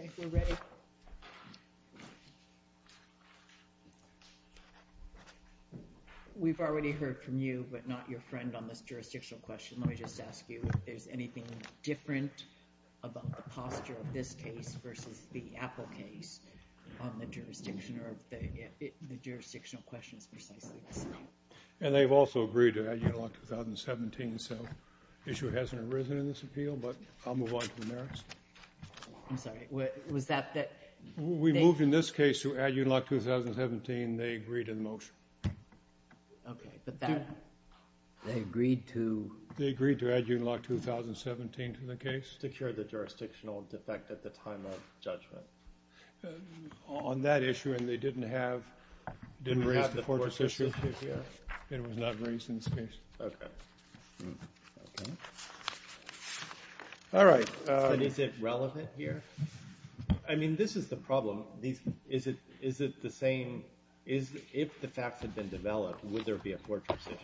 Okay, we're ready. We've already heard from you, but not your friend on this jurisdictional question. Let me just ask you if there's anything different about the posture of this case versus the Apple case on the jurisdiction or the jurisdictional question is precisely the same. And they've also agreed to add Uniloc 2017, so the issue hasn't arisen in this appeal, but I'll move on to the merits. I'm sorry, was that the... We moved in this case to add Uniloc 2017, they agreed to the motion. Okay, but that... They agreed to... They agreed to add Uniloc 2017 to the case. To cure the jurisdictional defect at the time of judgment. On that issue, and they didn't have... Didn't raise the fortress issue. It was not raised in this case. Okay. All right. But is it relevant here? I mean, this is the problem. Is it the same... If the facts had been developed, would there be a fortress issue?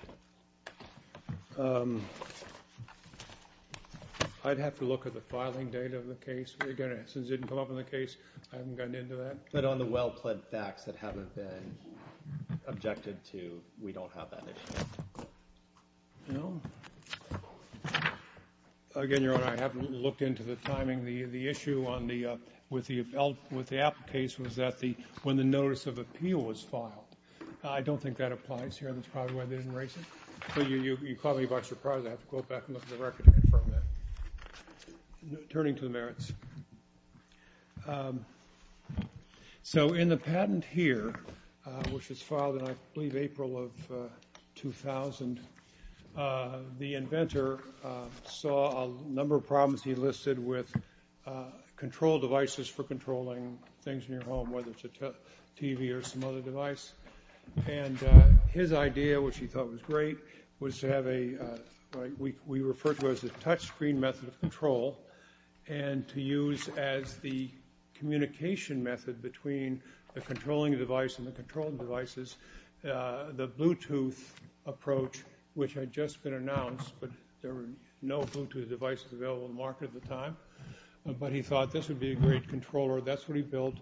I'd have to look at the filing date of the case. Again, since it didn't come up in the case, I haven't gotten into that. But on the well-pled facts that haven't been objected to, we don't have that issue. No. Again, Your Honor, I haven't looked into the timing. The issue with the Apple case was that when the notice of appeal was filed. I don't think that applies here. That's probably why they didn't raise it. So you caught me by surprise. I have to go back and look at the record to confirm that. Turning to the merits. So in the patent here, which was filed in, I believe, April of 2000, the inventor saw a number of problems he listed with control devices for controlling things in your home, whether it's a TV or some other device. And his idea, which he thought was great, was to have a, right, we refer to it as a touchscreen method of control. And to use as the communication method between the controlling device and which had just been announced, but there were no Bluetooth devices available in the market at the time. But he thought this would be a great controller. That's what he built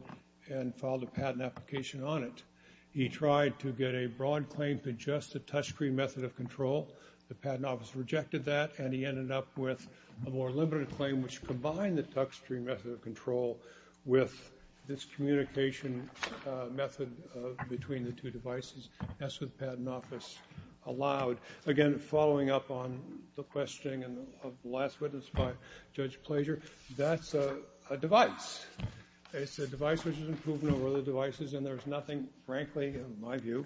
and filed a patent application on it. He tried to get a broad claim to just a touchscreen method of control. The patent office rejected that and he ended up with a more limited claim, which combined the touchscreen method of control with this communication method between the two devices, as the patent office allowed. Again, following up on the question of the last witness by Judge Plager, that's a device. It's a device which is improved over other devices, and there's nothing, frankly, in my view,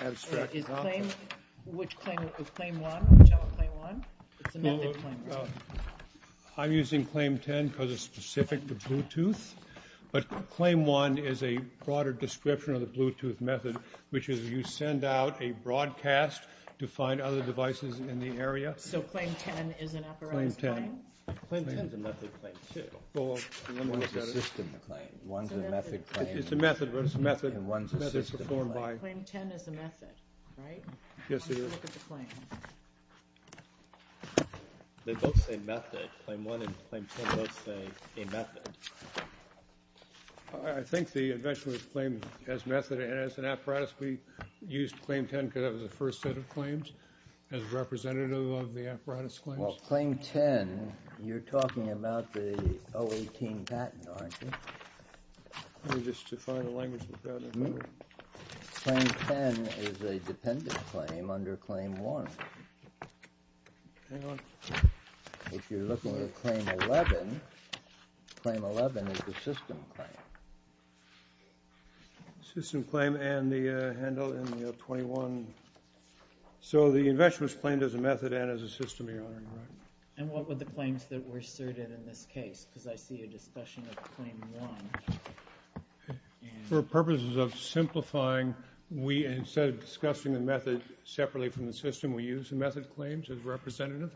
abstracted off of it. Which claim, is claim one, whichever claim one, it's a method claim one? I'm using claim ten because it's specific to Bluetooth. But claim one is a broader description of the Bluetooth method, which is you send out a broadcast to find other devices in the area. So claim ten is an apparatus claim? Claim ten. Claim ten is a method claim, too. Well, one is a system claim. One's a method claim. It's a method, but it's a method. And one's a system claim. Claim ten is a method, right? Yes, it is. Let's look at the claim. They both say method. Claim one and claim ten both say a method. I think the invention of claim as method and as an apparatus, we used claim ten because that was the first set of claims. As a representative of the apparatus claims. Well, claim ten, you're talking about the 018 patent, aren't you? Let me just define the language of the patent, if I may. Claim ten is a dependent claim under claim one. Hang on. If you're looking at claim 11, claim 11 is the system claim. System claim and the handle in the 021. So the invention was claimed as a method and as a system, Your Honor. And what were the claims that were asserted in this case? Because I see a discussion of claim one. For purposes of simplifying, instead of discussing the method separately from the system, we used the method claims as representative.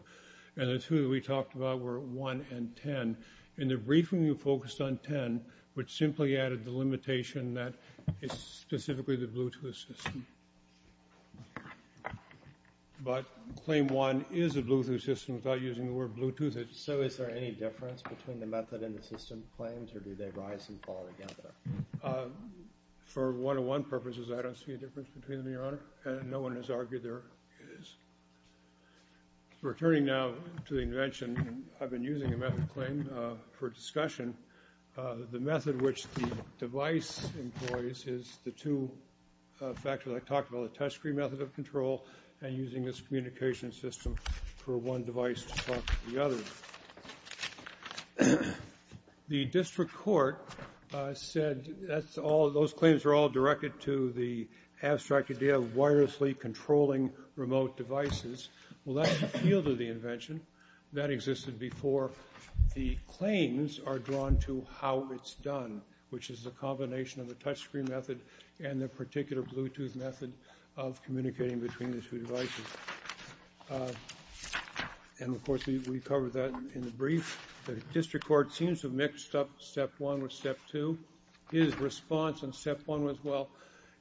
And the two that we talked about were one and ten. In the briefing, we focused on ten, which simply added the limitation that it's specifically the Bluetooth system. But claim one is a Bluetooth system without using the word Bluetooth. So is there any difference between the method and the system claims? Or do they rise and fall together? For one-on-one purposes, I don't see a difference between them, Your Honor. No one has argued there is. Returning now to the invention, I've been using a method claim for discussion. The method which the device employs is the two factors I talked about, the touchscreen method of control and using this communication system for one device to talk to the other. The district court said those claims are all directed to the abstract idea of wirelessly controlling remote devices. Well, that's the field of the invention. That existed before. The claims are drawn to how it's done, which is the combination of the touchscreen method and the particular Bluetooth method of communicating between the two devices. And of course, we covered that in the brief. The district court seems to have mixed up step one with step two. His response in step one was, well,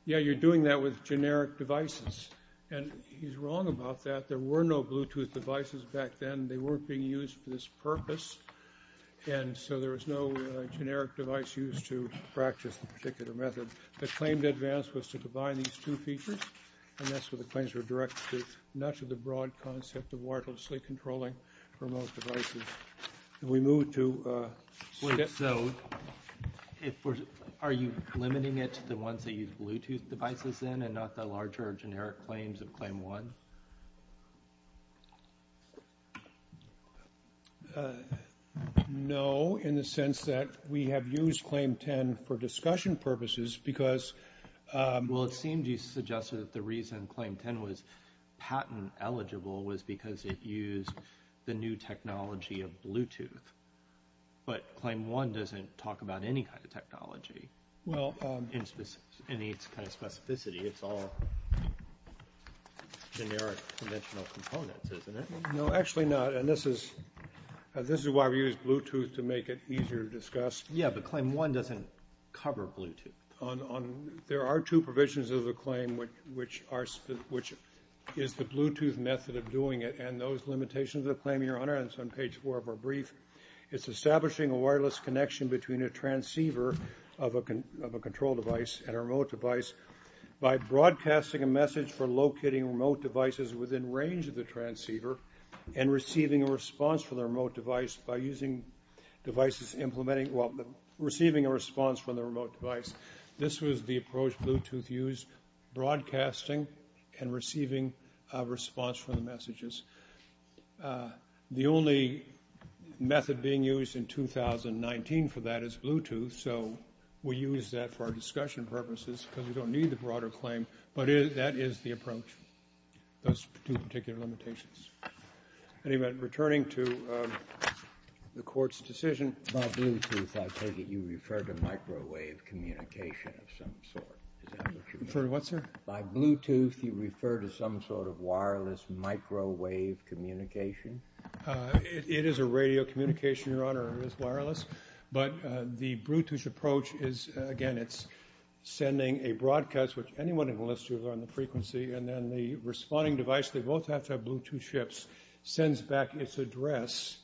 yeah, you're doing that with generic devices. And he's wrong about that. There were no Bluetooth devices back then. They weren't being used for this purpose. And so there was no generic device used to practice the particular method. The claim to advance was to combine these two features. And that's where the claims were directed, not to the broad concept of wirelessly controlling remote devices. We move to step two. If we're, are you limiting it to the ones that use Bluetooth devices then and not the larger generic claims of claim one? No, in the sense that we have used claim 10 for discussion purposes because. Well, it seemed you suggested that the reason claim 10 was patent eligible was because it used the new technology of Bluetooth. But claim one doesn't talk about any kind of technology. Well, in its kind of specificity, it's all generic conventional components, isn't it? No, actually not. And this is why we used Bluetooth to make it easier to discuss. Yeah, but claim one doesn't cover Bluetooth. There are two provisions of the claim, which is the Bluetooth method of doing it. And those limitations of the claim, your honor, it's on page four of our brief. It's establishing a wireless connection between a transceiver of a control device and a remote device by broadcasting a message for locating remote devices within range of the transceiver and receiving a response from the remote device by using devices implementing, well, receiving a response from the remote device. This was the approach Bluetooth used, broadcasting and receiving a response from the messages. The only method being used in 2019 for that is Bluetooth. So we use that for our discussion purposes because we don't need a broader claim. But that is the approach, those two particular limitations. Anyway, returning to the court's decision about Bluetooth, I take it you referred to microwave communication of some sort. Referred to what, sir? By Bluetooth, you refer to some sort of wireless microwave communication. It is a radio communication, your honor. It is wireless. But the Bluetooth approach is, again, it's sending a broadcast, which anyone can listen to on the frequency. And then the responding device, they both have to have Bluetooth chips, sends back its address.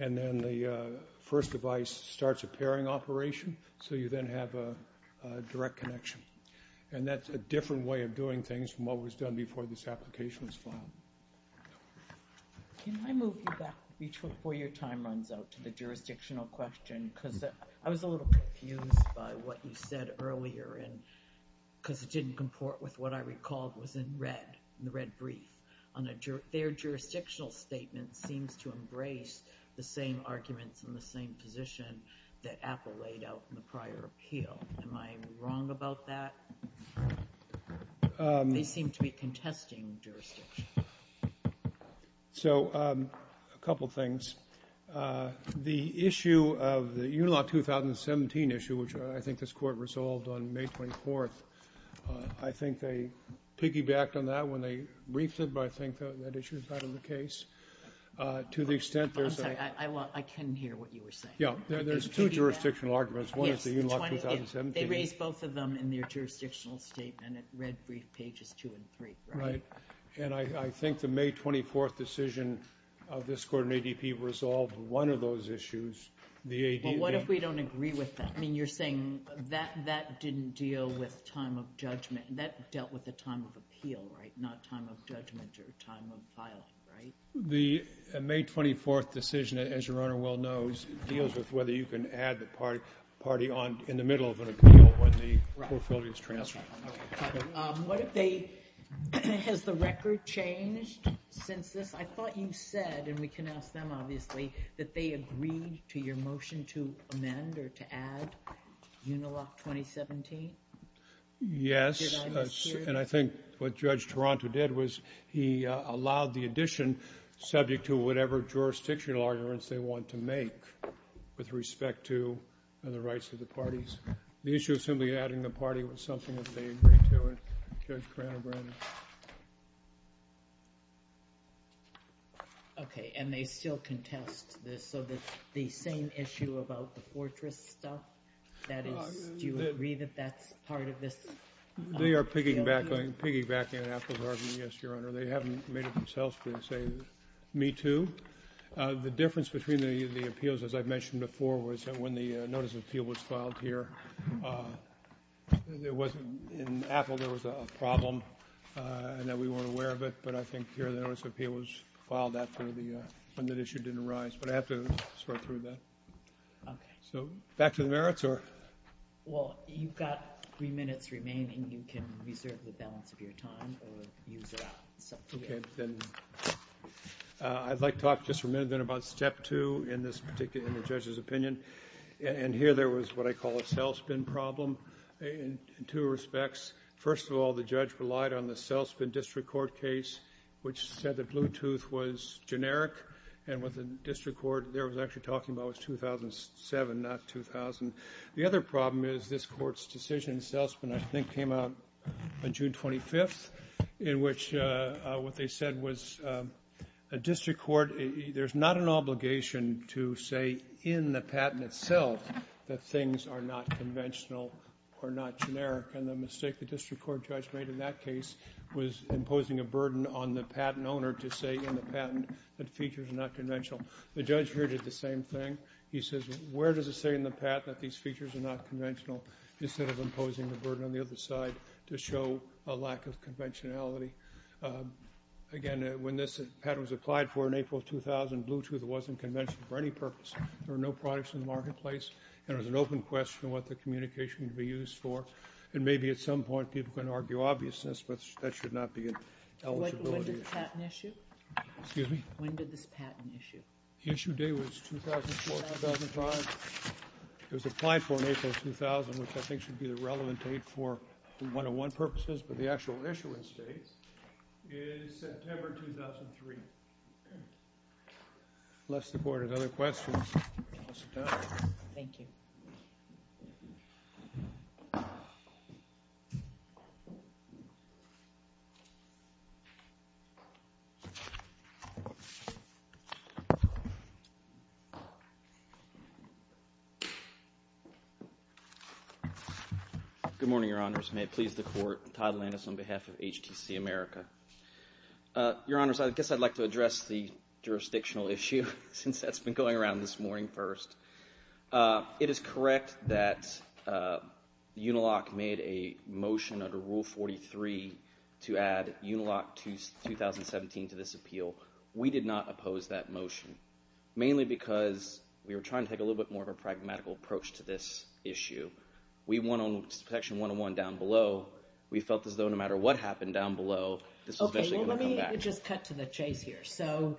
And then the first device starts a pairing operation. So you then have a direct connection. And that's a different way of doing things from what was done before this application was filed. Can I move you back before your time runs out to the jurisdictional question? Because I was a little confused by what you said earlier. Because it didn't comport with what I recalled was in red, in the red brief. Their jurisdictional statement seems to embrace the same arguments and the same position that Apple laid out in the prior appeal. Am I wrong about that? They seem to be contesting jurisdiction. So a couple of things. The issue of the Unilaw 2017 issue, which I think this court resolved on May 24th, I think they piggybacked on that when they briefed it. But I think that issue is not in the case. To the extent there's a I can hear what you were saying. There's two jurisdictional arguments. One is the Unilaw 2017. They raised both of them in their jurisdictional statement. It read brief pages two and three. And I think the May 24th decision of this court and ADP resolved one of those issues. Well, what if we don't agree with that? I mean, you're saying that didn't deal with time of judgment. That dealt with the time of appeal, not time of judgment or time of filing. The May 24th decision, as your Honor well knows, deals with whether you can add the party in the middle of an appeal when the profility is transferred. What if they, has the record changed since this? I thought you said, and we can ask them obviously, that they agreed to your motion to amend or to add Unilaw 2017? Yes, and I think what Judge Taranto did was he allowed the addition subject to whatever jurisdictional arguments they want to make with respect to the rights of the parties. The issue of simply adding the party was something that they agreed to, and Judge Taranto granted. OK, and they still contest this. So the same issue about the fortress stuff, that is, do you agree that that's part of this appeal? They are piggybacking on Apple's argument, yes, your Honor. They haven't made it themselves to say, me too. The difference between the appeals, as I've mentioned before, was that when the notice of appeal was filed here, there wasn't, in Apple there was a problem, and that we weren't aware of it, but I think here the notice of appeal was filed after the issue didn't arise. But I have to sort through that. OK. So back to the merits, or? Well, you've got three minutes remaining. You can reserve the balance of your time or use it up. OK, then I'd like to talk just for a minute about step two in this particular, in the judge's opinion. And here there was what I call a cell spin problem in two respects. First of all, the judge relied on the cell spin district court case, which said that Bluetooth was generic, and what the district court there was actually talking about was 2007, not 2000. The other problem is this court's decision, cell spin I think came out on June 25th, in which what they said was a district court, there's not an obligation to say in the patent itself that things are not conventional or not generic. And the mistake the district court judge made in that case was imposing a burden on the patent owner to say in the patent that features are not conventional. The judge here did the same thing. He says, where does it say in the patent that these features are not conventional instead of imposing the burden on the other side to show a lack of conventionality? Again, when this patent was applied for in April 2000, Bluetooth wasn't conventional for any purpose. There were no products in the marketplace, and it was an open question what the communication would be used for. And maybe at some point people can argue obviousness, but that should not be an eligibility issue. When did the patent issue? Excuse me? When did this patent issue? Issue date was 2004, 2005. It was applied for in April 2000, which I think should be the relevant date for one-on-one purposes, but the actual issuance date is September 2003. Unless the board has other questions, I'll sit down. Thank you. Thank you. Good morning, Your Honors. May it please the court, Todd Landis on behalf of HTC America. Your Honors, I guess I'd like to address the jurisdictional issue since that's been going around this morning first. It is correct that Uniloc made a motion under Rule 43 to add Uniloc 2017 to this appeal. We did not oppose that motion, mainly because we were trying to take a little bit more of a pragmatical approach to this issue. We went on Section 101 down below. We felt as though no matter what happened down below, this was actually gonna come back. Okay, well let me just cut to the chase here. So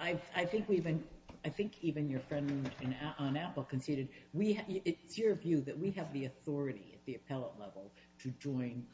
I think even your friend on Apple conceded, it's your view that we have the authority at the appellate level to join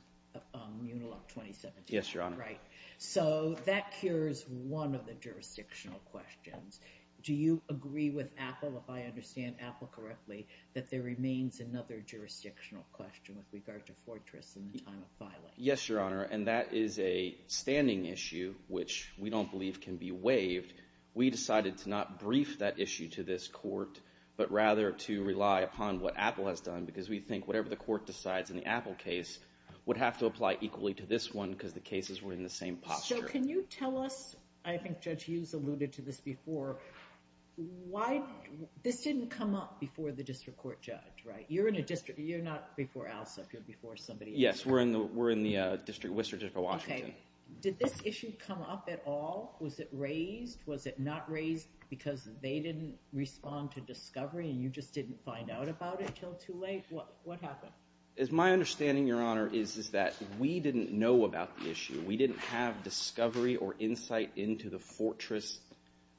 Uniloc 2017. Yes, Your Honor. Right, so that cures one of the jurisdictional questions. Do you agree with Apple, if I understand Apple correctly, that there remains another jurisdictional question with regard to Fortress in the time of filing? Yes, Your Honor, and that is a standing issue which we don't believe can be waived. We decided to not brief that issue to this court, but rather to rely upon what Apple has done because we think whatever the court decides in the Apple case would have to apply equally to this one because the cases were in the same posture. So can you tell us, I think Judge Hughes alluded to this before, why this didn't come up before the district court judge, right, you're in a district, you're not before ALSA, you're before somebody else. Yes, we're in the district, Worcester District of Washington. Okay, did this issue come up at all? Was it raised, was it not raised because they didn't respond to discovery and you just didn't find out about it till too late? What happened? As my understanding, Your Honor, is that we didn't know about the issue. We didn't have discovery or insight into the Fortress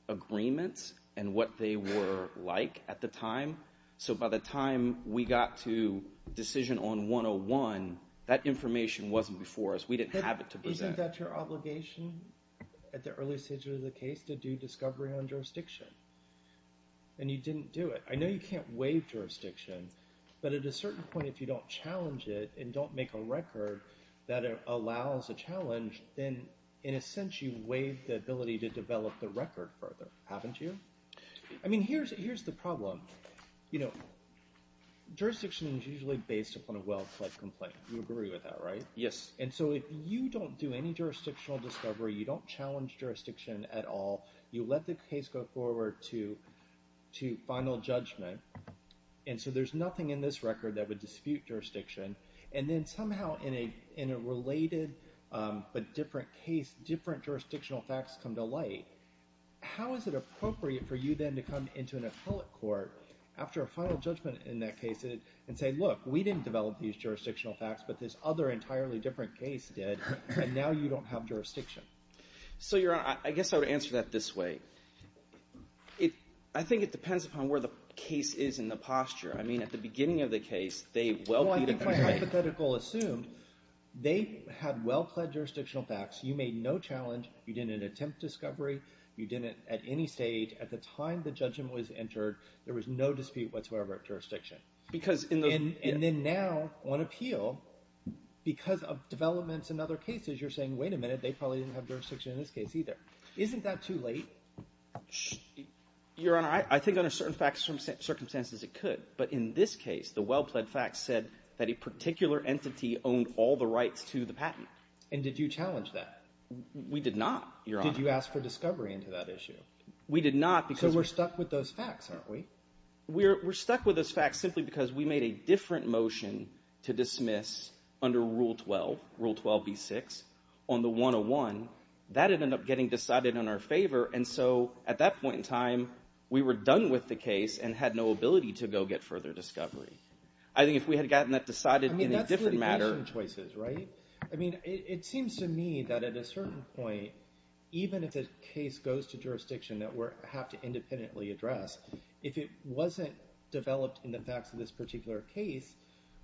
agreements and what they were like at the time. So by the time we got to decision on 101, that information wasn't before us. We didn't have it to present. Isn't that your obligation at the earliest stage of the case to do discovery on jurisdiction? And you didn't do it. I know you can't waive jurisdiction, but at a certain point if you don't challenge it and don't make a record that allows a challenge, then in a sense you waive the ability to develop the record further, haven't you? I mean, here's the problem. Jurisdiction is usually based upon a well-fledged complaint. You agree with that, right? Yes. And so if you don't do any jurisdictional discovery, you don't challenge jurisdiction at all, you let the case go forward to final judgment, and so there's nothing in this record that would dispute jurisdiction, and then somehow in a related but different case, different jurisdictional facts come to light, how is it appropriate for you then to come into an appellate court after a final judgment in that case and say, look, we didn't develop these jurisdictional facts, but this other entirely different case did, and now you don't have jurisdiction? So, Your Honor, I guess I would answer that this way. I think it depends upon where the case is in the posture. I mean, at the beginning of the case, they well-feed a complaint. Well, I think my hypothetical assumed they had well-fledged jurisdictional facts, you made no challenge, you didn't attempt discovery, you didn't at any stage, at the time the judgment was entered, there was no dispute whatsoever at jurisdiction. Because in the... Because of developments in other cases, you're saying, wait a minute, they probably didn't have jurisdiction in this case either. Isn't that too late? Your Honor, I think under certain circumstances it could, but in this case, the well-fledged facts said that a particular entity owned all the rights to the patent. And did you challenge that? We did not, Your Honor. Did you ask for discovery into that issue? We did not because... So we're stuck with those facts, aren't we? We're stuck with those facts simply because we made a different motion to dismiss under Rule 12, Rule 12b-6, on the 101, that ended up getting decided in our favor. And so at that point in time, we were done with the case and had no ability to go get further discovery. I think if we had gotten that decided in a different matter... I mean, that's litigation choices, right? I mean, it seems to me that at a certain point, even if the case goes to jurisdiction that we have to independently address, if it wasn't developed in the facts of this particular case,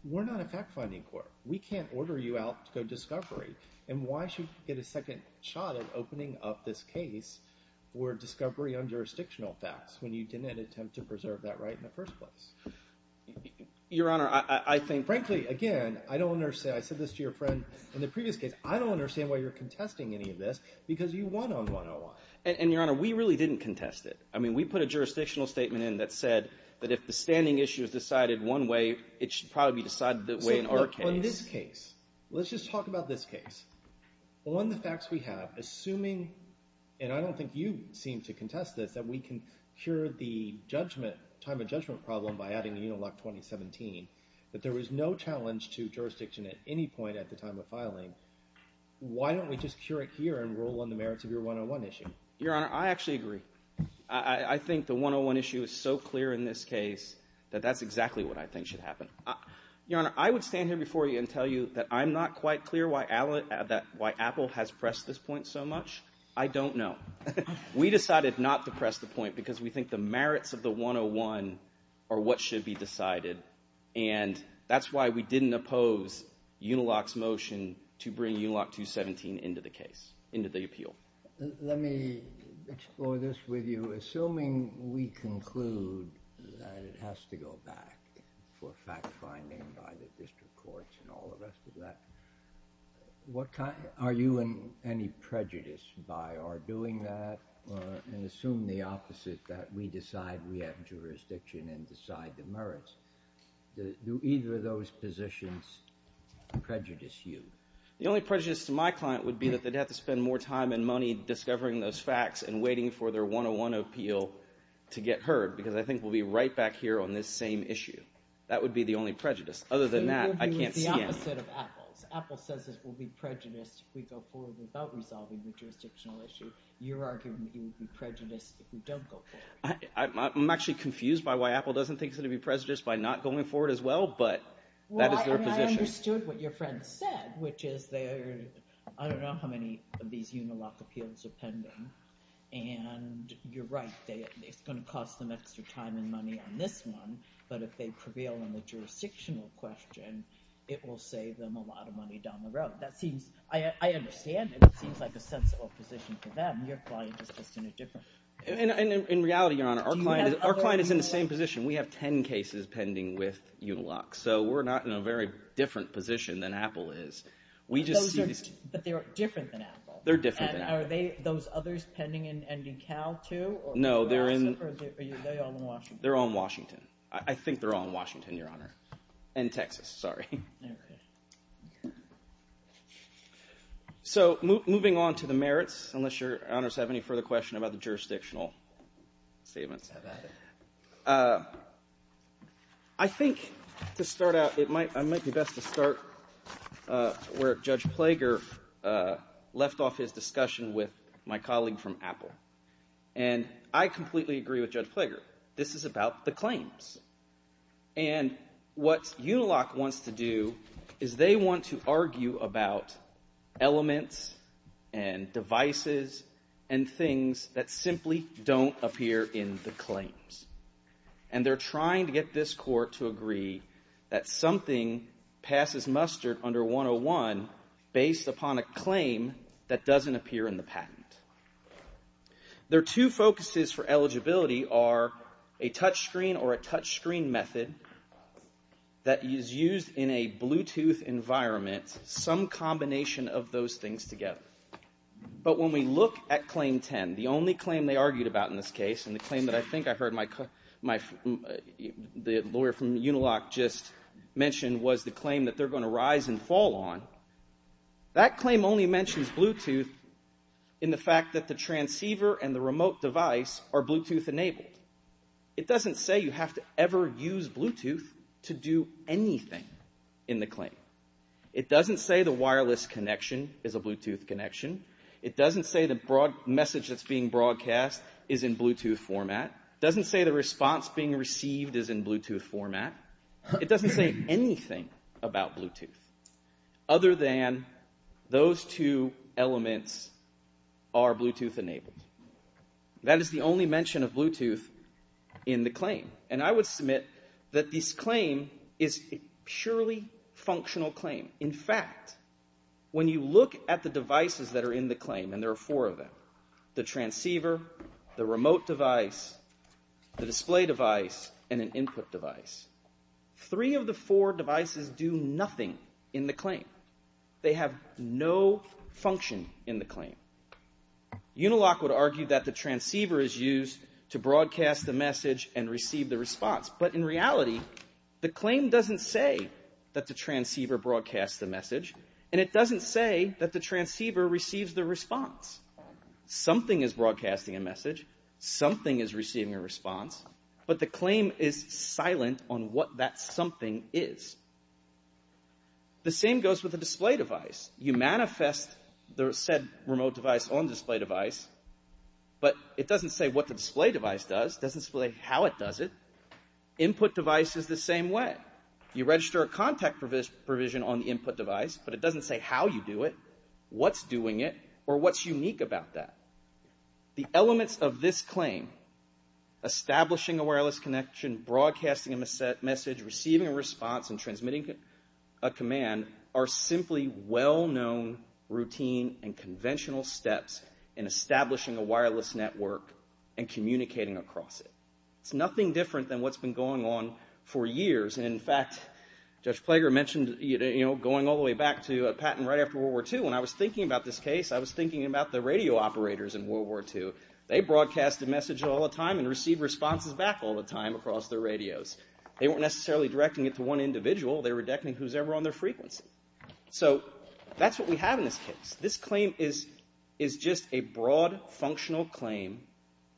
we're not a fact-finding court. We can't order you out to go discovery. And why should we get a second shot at opening up this case where discovery on jurisdictional facts when you didn't attempt to preserve that right in the first place? Your Honor, I think... Frankly, again, I don't understand. I said this to your friend in the previous case. I don't understand why you're contesting any of this because you won on 101. And Your Honor, we really didn't contest it. I mean, we put a jurisdictional statement in that said that if the standing issue is decided one way, it should probably be decided the way in our case. So, on this case, let's just talk about this case. On the facts we have, assuming... And I don't think you seem to contest this, that we can cure the judgment, time of judgment problem by adding the Unilock 2017, that there was no challenge to jurisdiction at any point at the time of filing. Why don't we just cure it here and roll on the merits of your 101 issue? Your Honor, I actually agree. I think the 101 issue is so clear in this case that that's exactly what I think should happen. Your Honor, I would stand here before you and tell you that I'm not quite clear why Apple has pressed this point so much. I don't know. We decided not to press the point because we think the merits of the 101 are what should be decided. And that's why we didn't oppose Unilock's motion to bring Unilock 2017 into the case, into the appeal. Let me explore this with you. Assuming we conclude that it has to go back for fact-finding by the district courts and all the rest of that, are you in any prejudice by our doing that? And assume the opposite, that we decide we have jurisdiction and decide the merits. Do either of those positions prejudice you? The only prejudice to my client would be that they'd have to spend more time and money discovering those facts and waiting for their 101 appeal to get heard, because I think we'll be right back here on this same issue. That would be the only prejudice. Other than that, I can't stand it. You're doing the opposite of Apple. Apple says it will be prejudiced if we go forward without resolving the jurisdictional issue. You're arguing it would be prejudiced if we don't go forward. I'm actually confused by why Apple doesn't think it's going to be prejudiced by not going forward as well, but that is their position. Well, I mean, I understood what your friend said, which is they're, I don't know how many of these Unilock appeals are pending, and you're right. It's going to cost them extra time and money on this one, but if they prevail on the jurisdictional question, it will save them a lot of money down the road. That seems, I understand it. It seems like a sensible position for them. Your client is just in a different. And in reality, Your Honor, our client is in the same position. We have 10 cases pending with Unilock, so we're not in a very different position than Apple is. We just see these. But they're different than Apple. They're different than Apple. And are those others pending in DeKalb, too? No, they're in Washington. I think they're all in Washington, Your Honor. And Texas, sorry. So moving on to the merits, unless Your Honors have any further question about the jurisdictional statements. I think to start out, it might be of his discussion with my colleague from Apple. And I completely agree with Judge Plager. This is about the claims. And what Unilock wants to do is they want to argue about elements, and devices, and things that simply don't appear in the claims. And they're trying to get this court to agree that something passes mustard under 101 based upon a claim that doesn't appear in the patent. Their two focuses for eligibility are a touch screen or a touch screen method that is used in a Bluetooth environment, some combination of those things together. But when we look at claim 10, the only claim they argued about in this case, and the claim that I think I heard the lawyer from Unilock just mention was the claim that they're going to rise and fall on. That claim only mentions Bluetooth in the fact that the transceiver and the remote device are Bluetooth enabled. It doesn't say you have to ever use Bluetooth to do anything in the claim. It doesn't say the wireless connection is a Bluetooth connection. It doesn't say the message that's being broadcast is in Bluetooth format. It doesn't say the response being received is in Bluetooth format. It doesn't say anything about Bluetooth. Other than those two elements are Bluetooth enabled. That is the only mention of Bluetooth in the claim. And I would submit that this claim is a purely functional claim. In fact, when you look at the devices that are in the claim, and there are four of them, the transceiver, the remote device, the display device, and an input device, three of the four devices do nothing in the claim. They have no function in the claim. Unilock would argue that the transceiver is used to broadcast the message and receive the response. But in reality, the claim doesn't say that the transceiver broadcasts the message. And it doesn't say that the transceiver receives the response. Something is broadcasting a message. Something is receiving a response. But the claim is silent on what that something is. The same goes with the display device. You manifest the said remote device on display device, but it doesn't say what the display device does. It doesn't say how it does it. Input device is the same way. You register a contact provision on the input device, but it doesn't say how you do it, what's doing it, or what's unique about that. The elements of this claim, establishing a wireless connection, broadcasting a message, receiving a response, and transmitting a command, are simply well-known routine and conventional steps in establishing a wireless network and communicating across it. It's nothing different than what's been going on for years. And in fact, Judge Plager mentioned going all the way back to Patton right after World War II. When I was thinking about this case, I was thinking about the radio operators in World War II. They broadcast a message all the time and receive responses back all the time across their radios. They weren't necessarily directing it to one individual. They were directing who's ever on their frequency. So that's what we have in this case. This claim is just a broad functional claim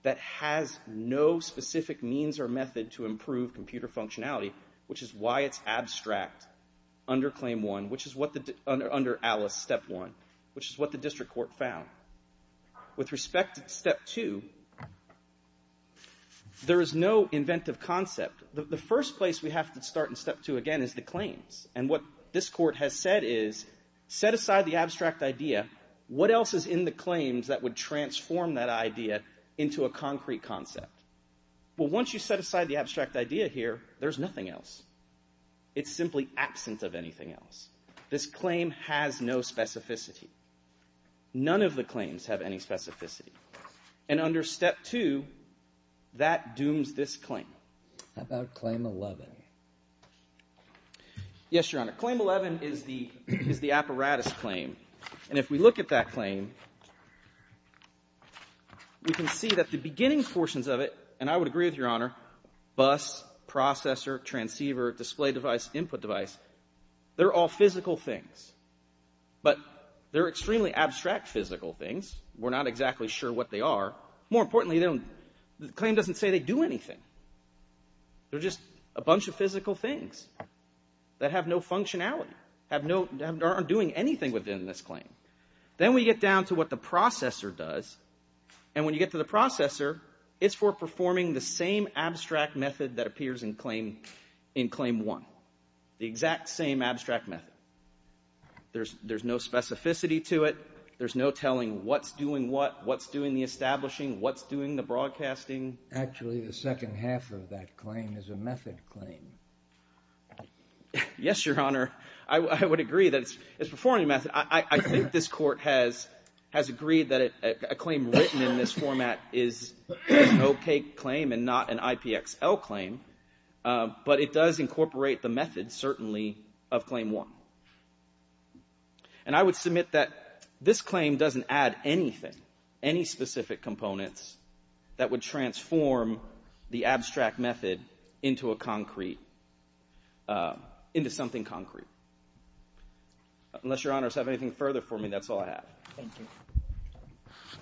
that has no specific means or method to improve computer functionality, which is why it's abstract under claim one, which is under Alice step one, which is what the district court found. With respect to step two, there is no inventive concept. The first place we have to start in step two, again, is the claims. And what this court has said is, set aside the abstract idea. What else is in the claims that would transform that idea into a concrete concept? Well, once you set aside the abstract idea here, there's nothing else. It's simply absent of anything else. This claim has no specificity. None of the claims have any specificity. And under step two, that dooms this claim. How about claim 11? Yes, Your Honor. Claim 11 is the apparatus claim. And if we look at that claim, we can see that the beginning portions of it, and I would agree with Your Honor, bus, processor, transceiver, display device, input device, they're all physical things. But they're extremely abstract physical things. We're not exactly sure what they are. More importantly, the claim doesn't say they do anything. They're just a bunch of physical things that have no functionality, aren't doing anything within this claim. Then we get down to what the processor does. And when you get to the processor, it's for performing the same abstract method that in claim 1, the exact same abstract method. There's no specificity to it. There's no telling what's doing what, what's doing the establishing, what's doing the broadcasting. Actually, the second half of that claim is a method claim. Yes, Your Honor. I would agree that it's performing a method. I think this court has agreed that a claim written in this format is an OK claim and not an IPXL claim. But it does incorporate the method, certainly, of claim 1. And I would submit that this claim doesn't add anything, any specific components that would transform the abstract method into a concrete, into something concrete. Unless Your Honors have anything further for me, that's all I have. Thank you. Thank you.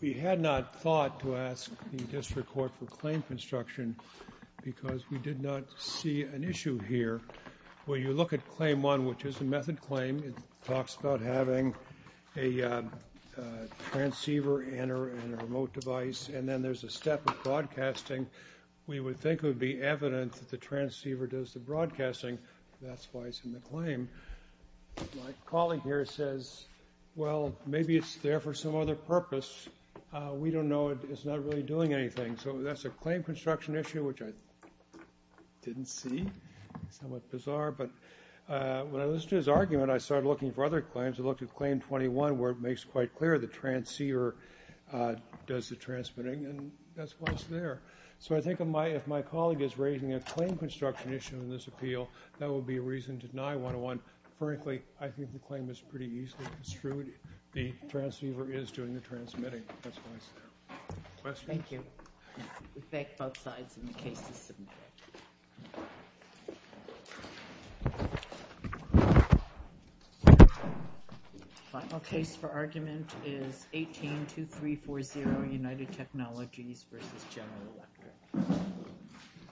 We had not thought to ask the district court for claim construction because we did not see an issue here. When you look at claim 1, which is a method claim, it talks about having a transceiver and a remote device. And then there's a step of broadcasting. We would think it would be evident that the transceiver does the broadcasting. That's why it's in the claim. My colleague here says, well, maybe it's there for some other purpose. We don't know. It's not really doing anything. So that's a claim construction issue, which I didn't see, somewhat bizarre. But when I listened to his argument, I started looking for other claims. I looked at claim 21, where it makes quite clear the transceiver does the transmitting. And that's why it's there. So I think if my colleague is raising a claim construction issue in this appeal, that would be a reason to deny 101. Frankly, I think the claim is pretty easily construed. The transceiver is doing the transmitting. That's why it's there. Questions? Thank you. We thank both sides in the case system. The final case for argument is 18-2340, United Technologies versus General Electric.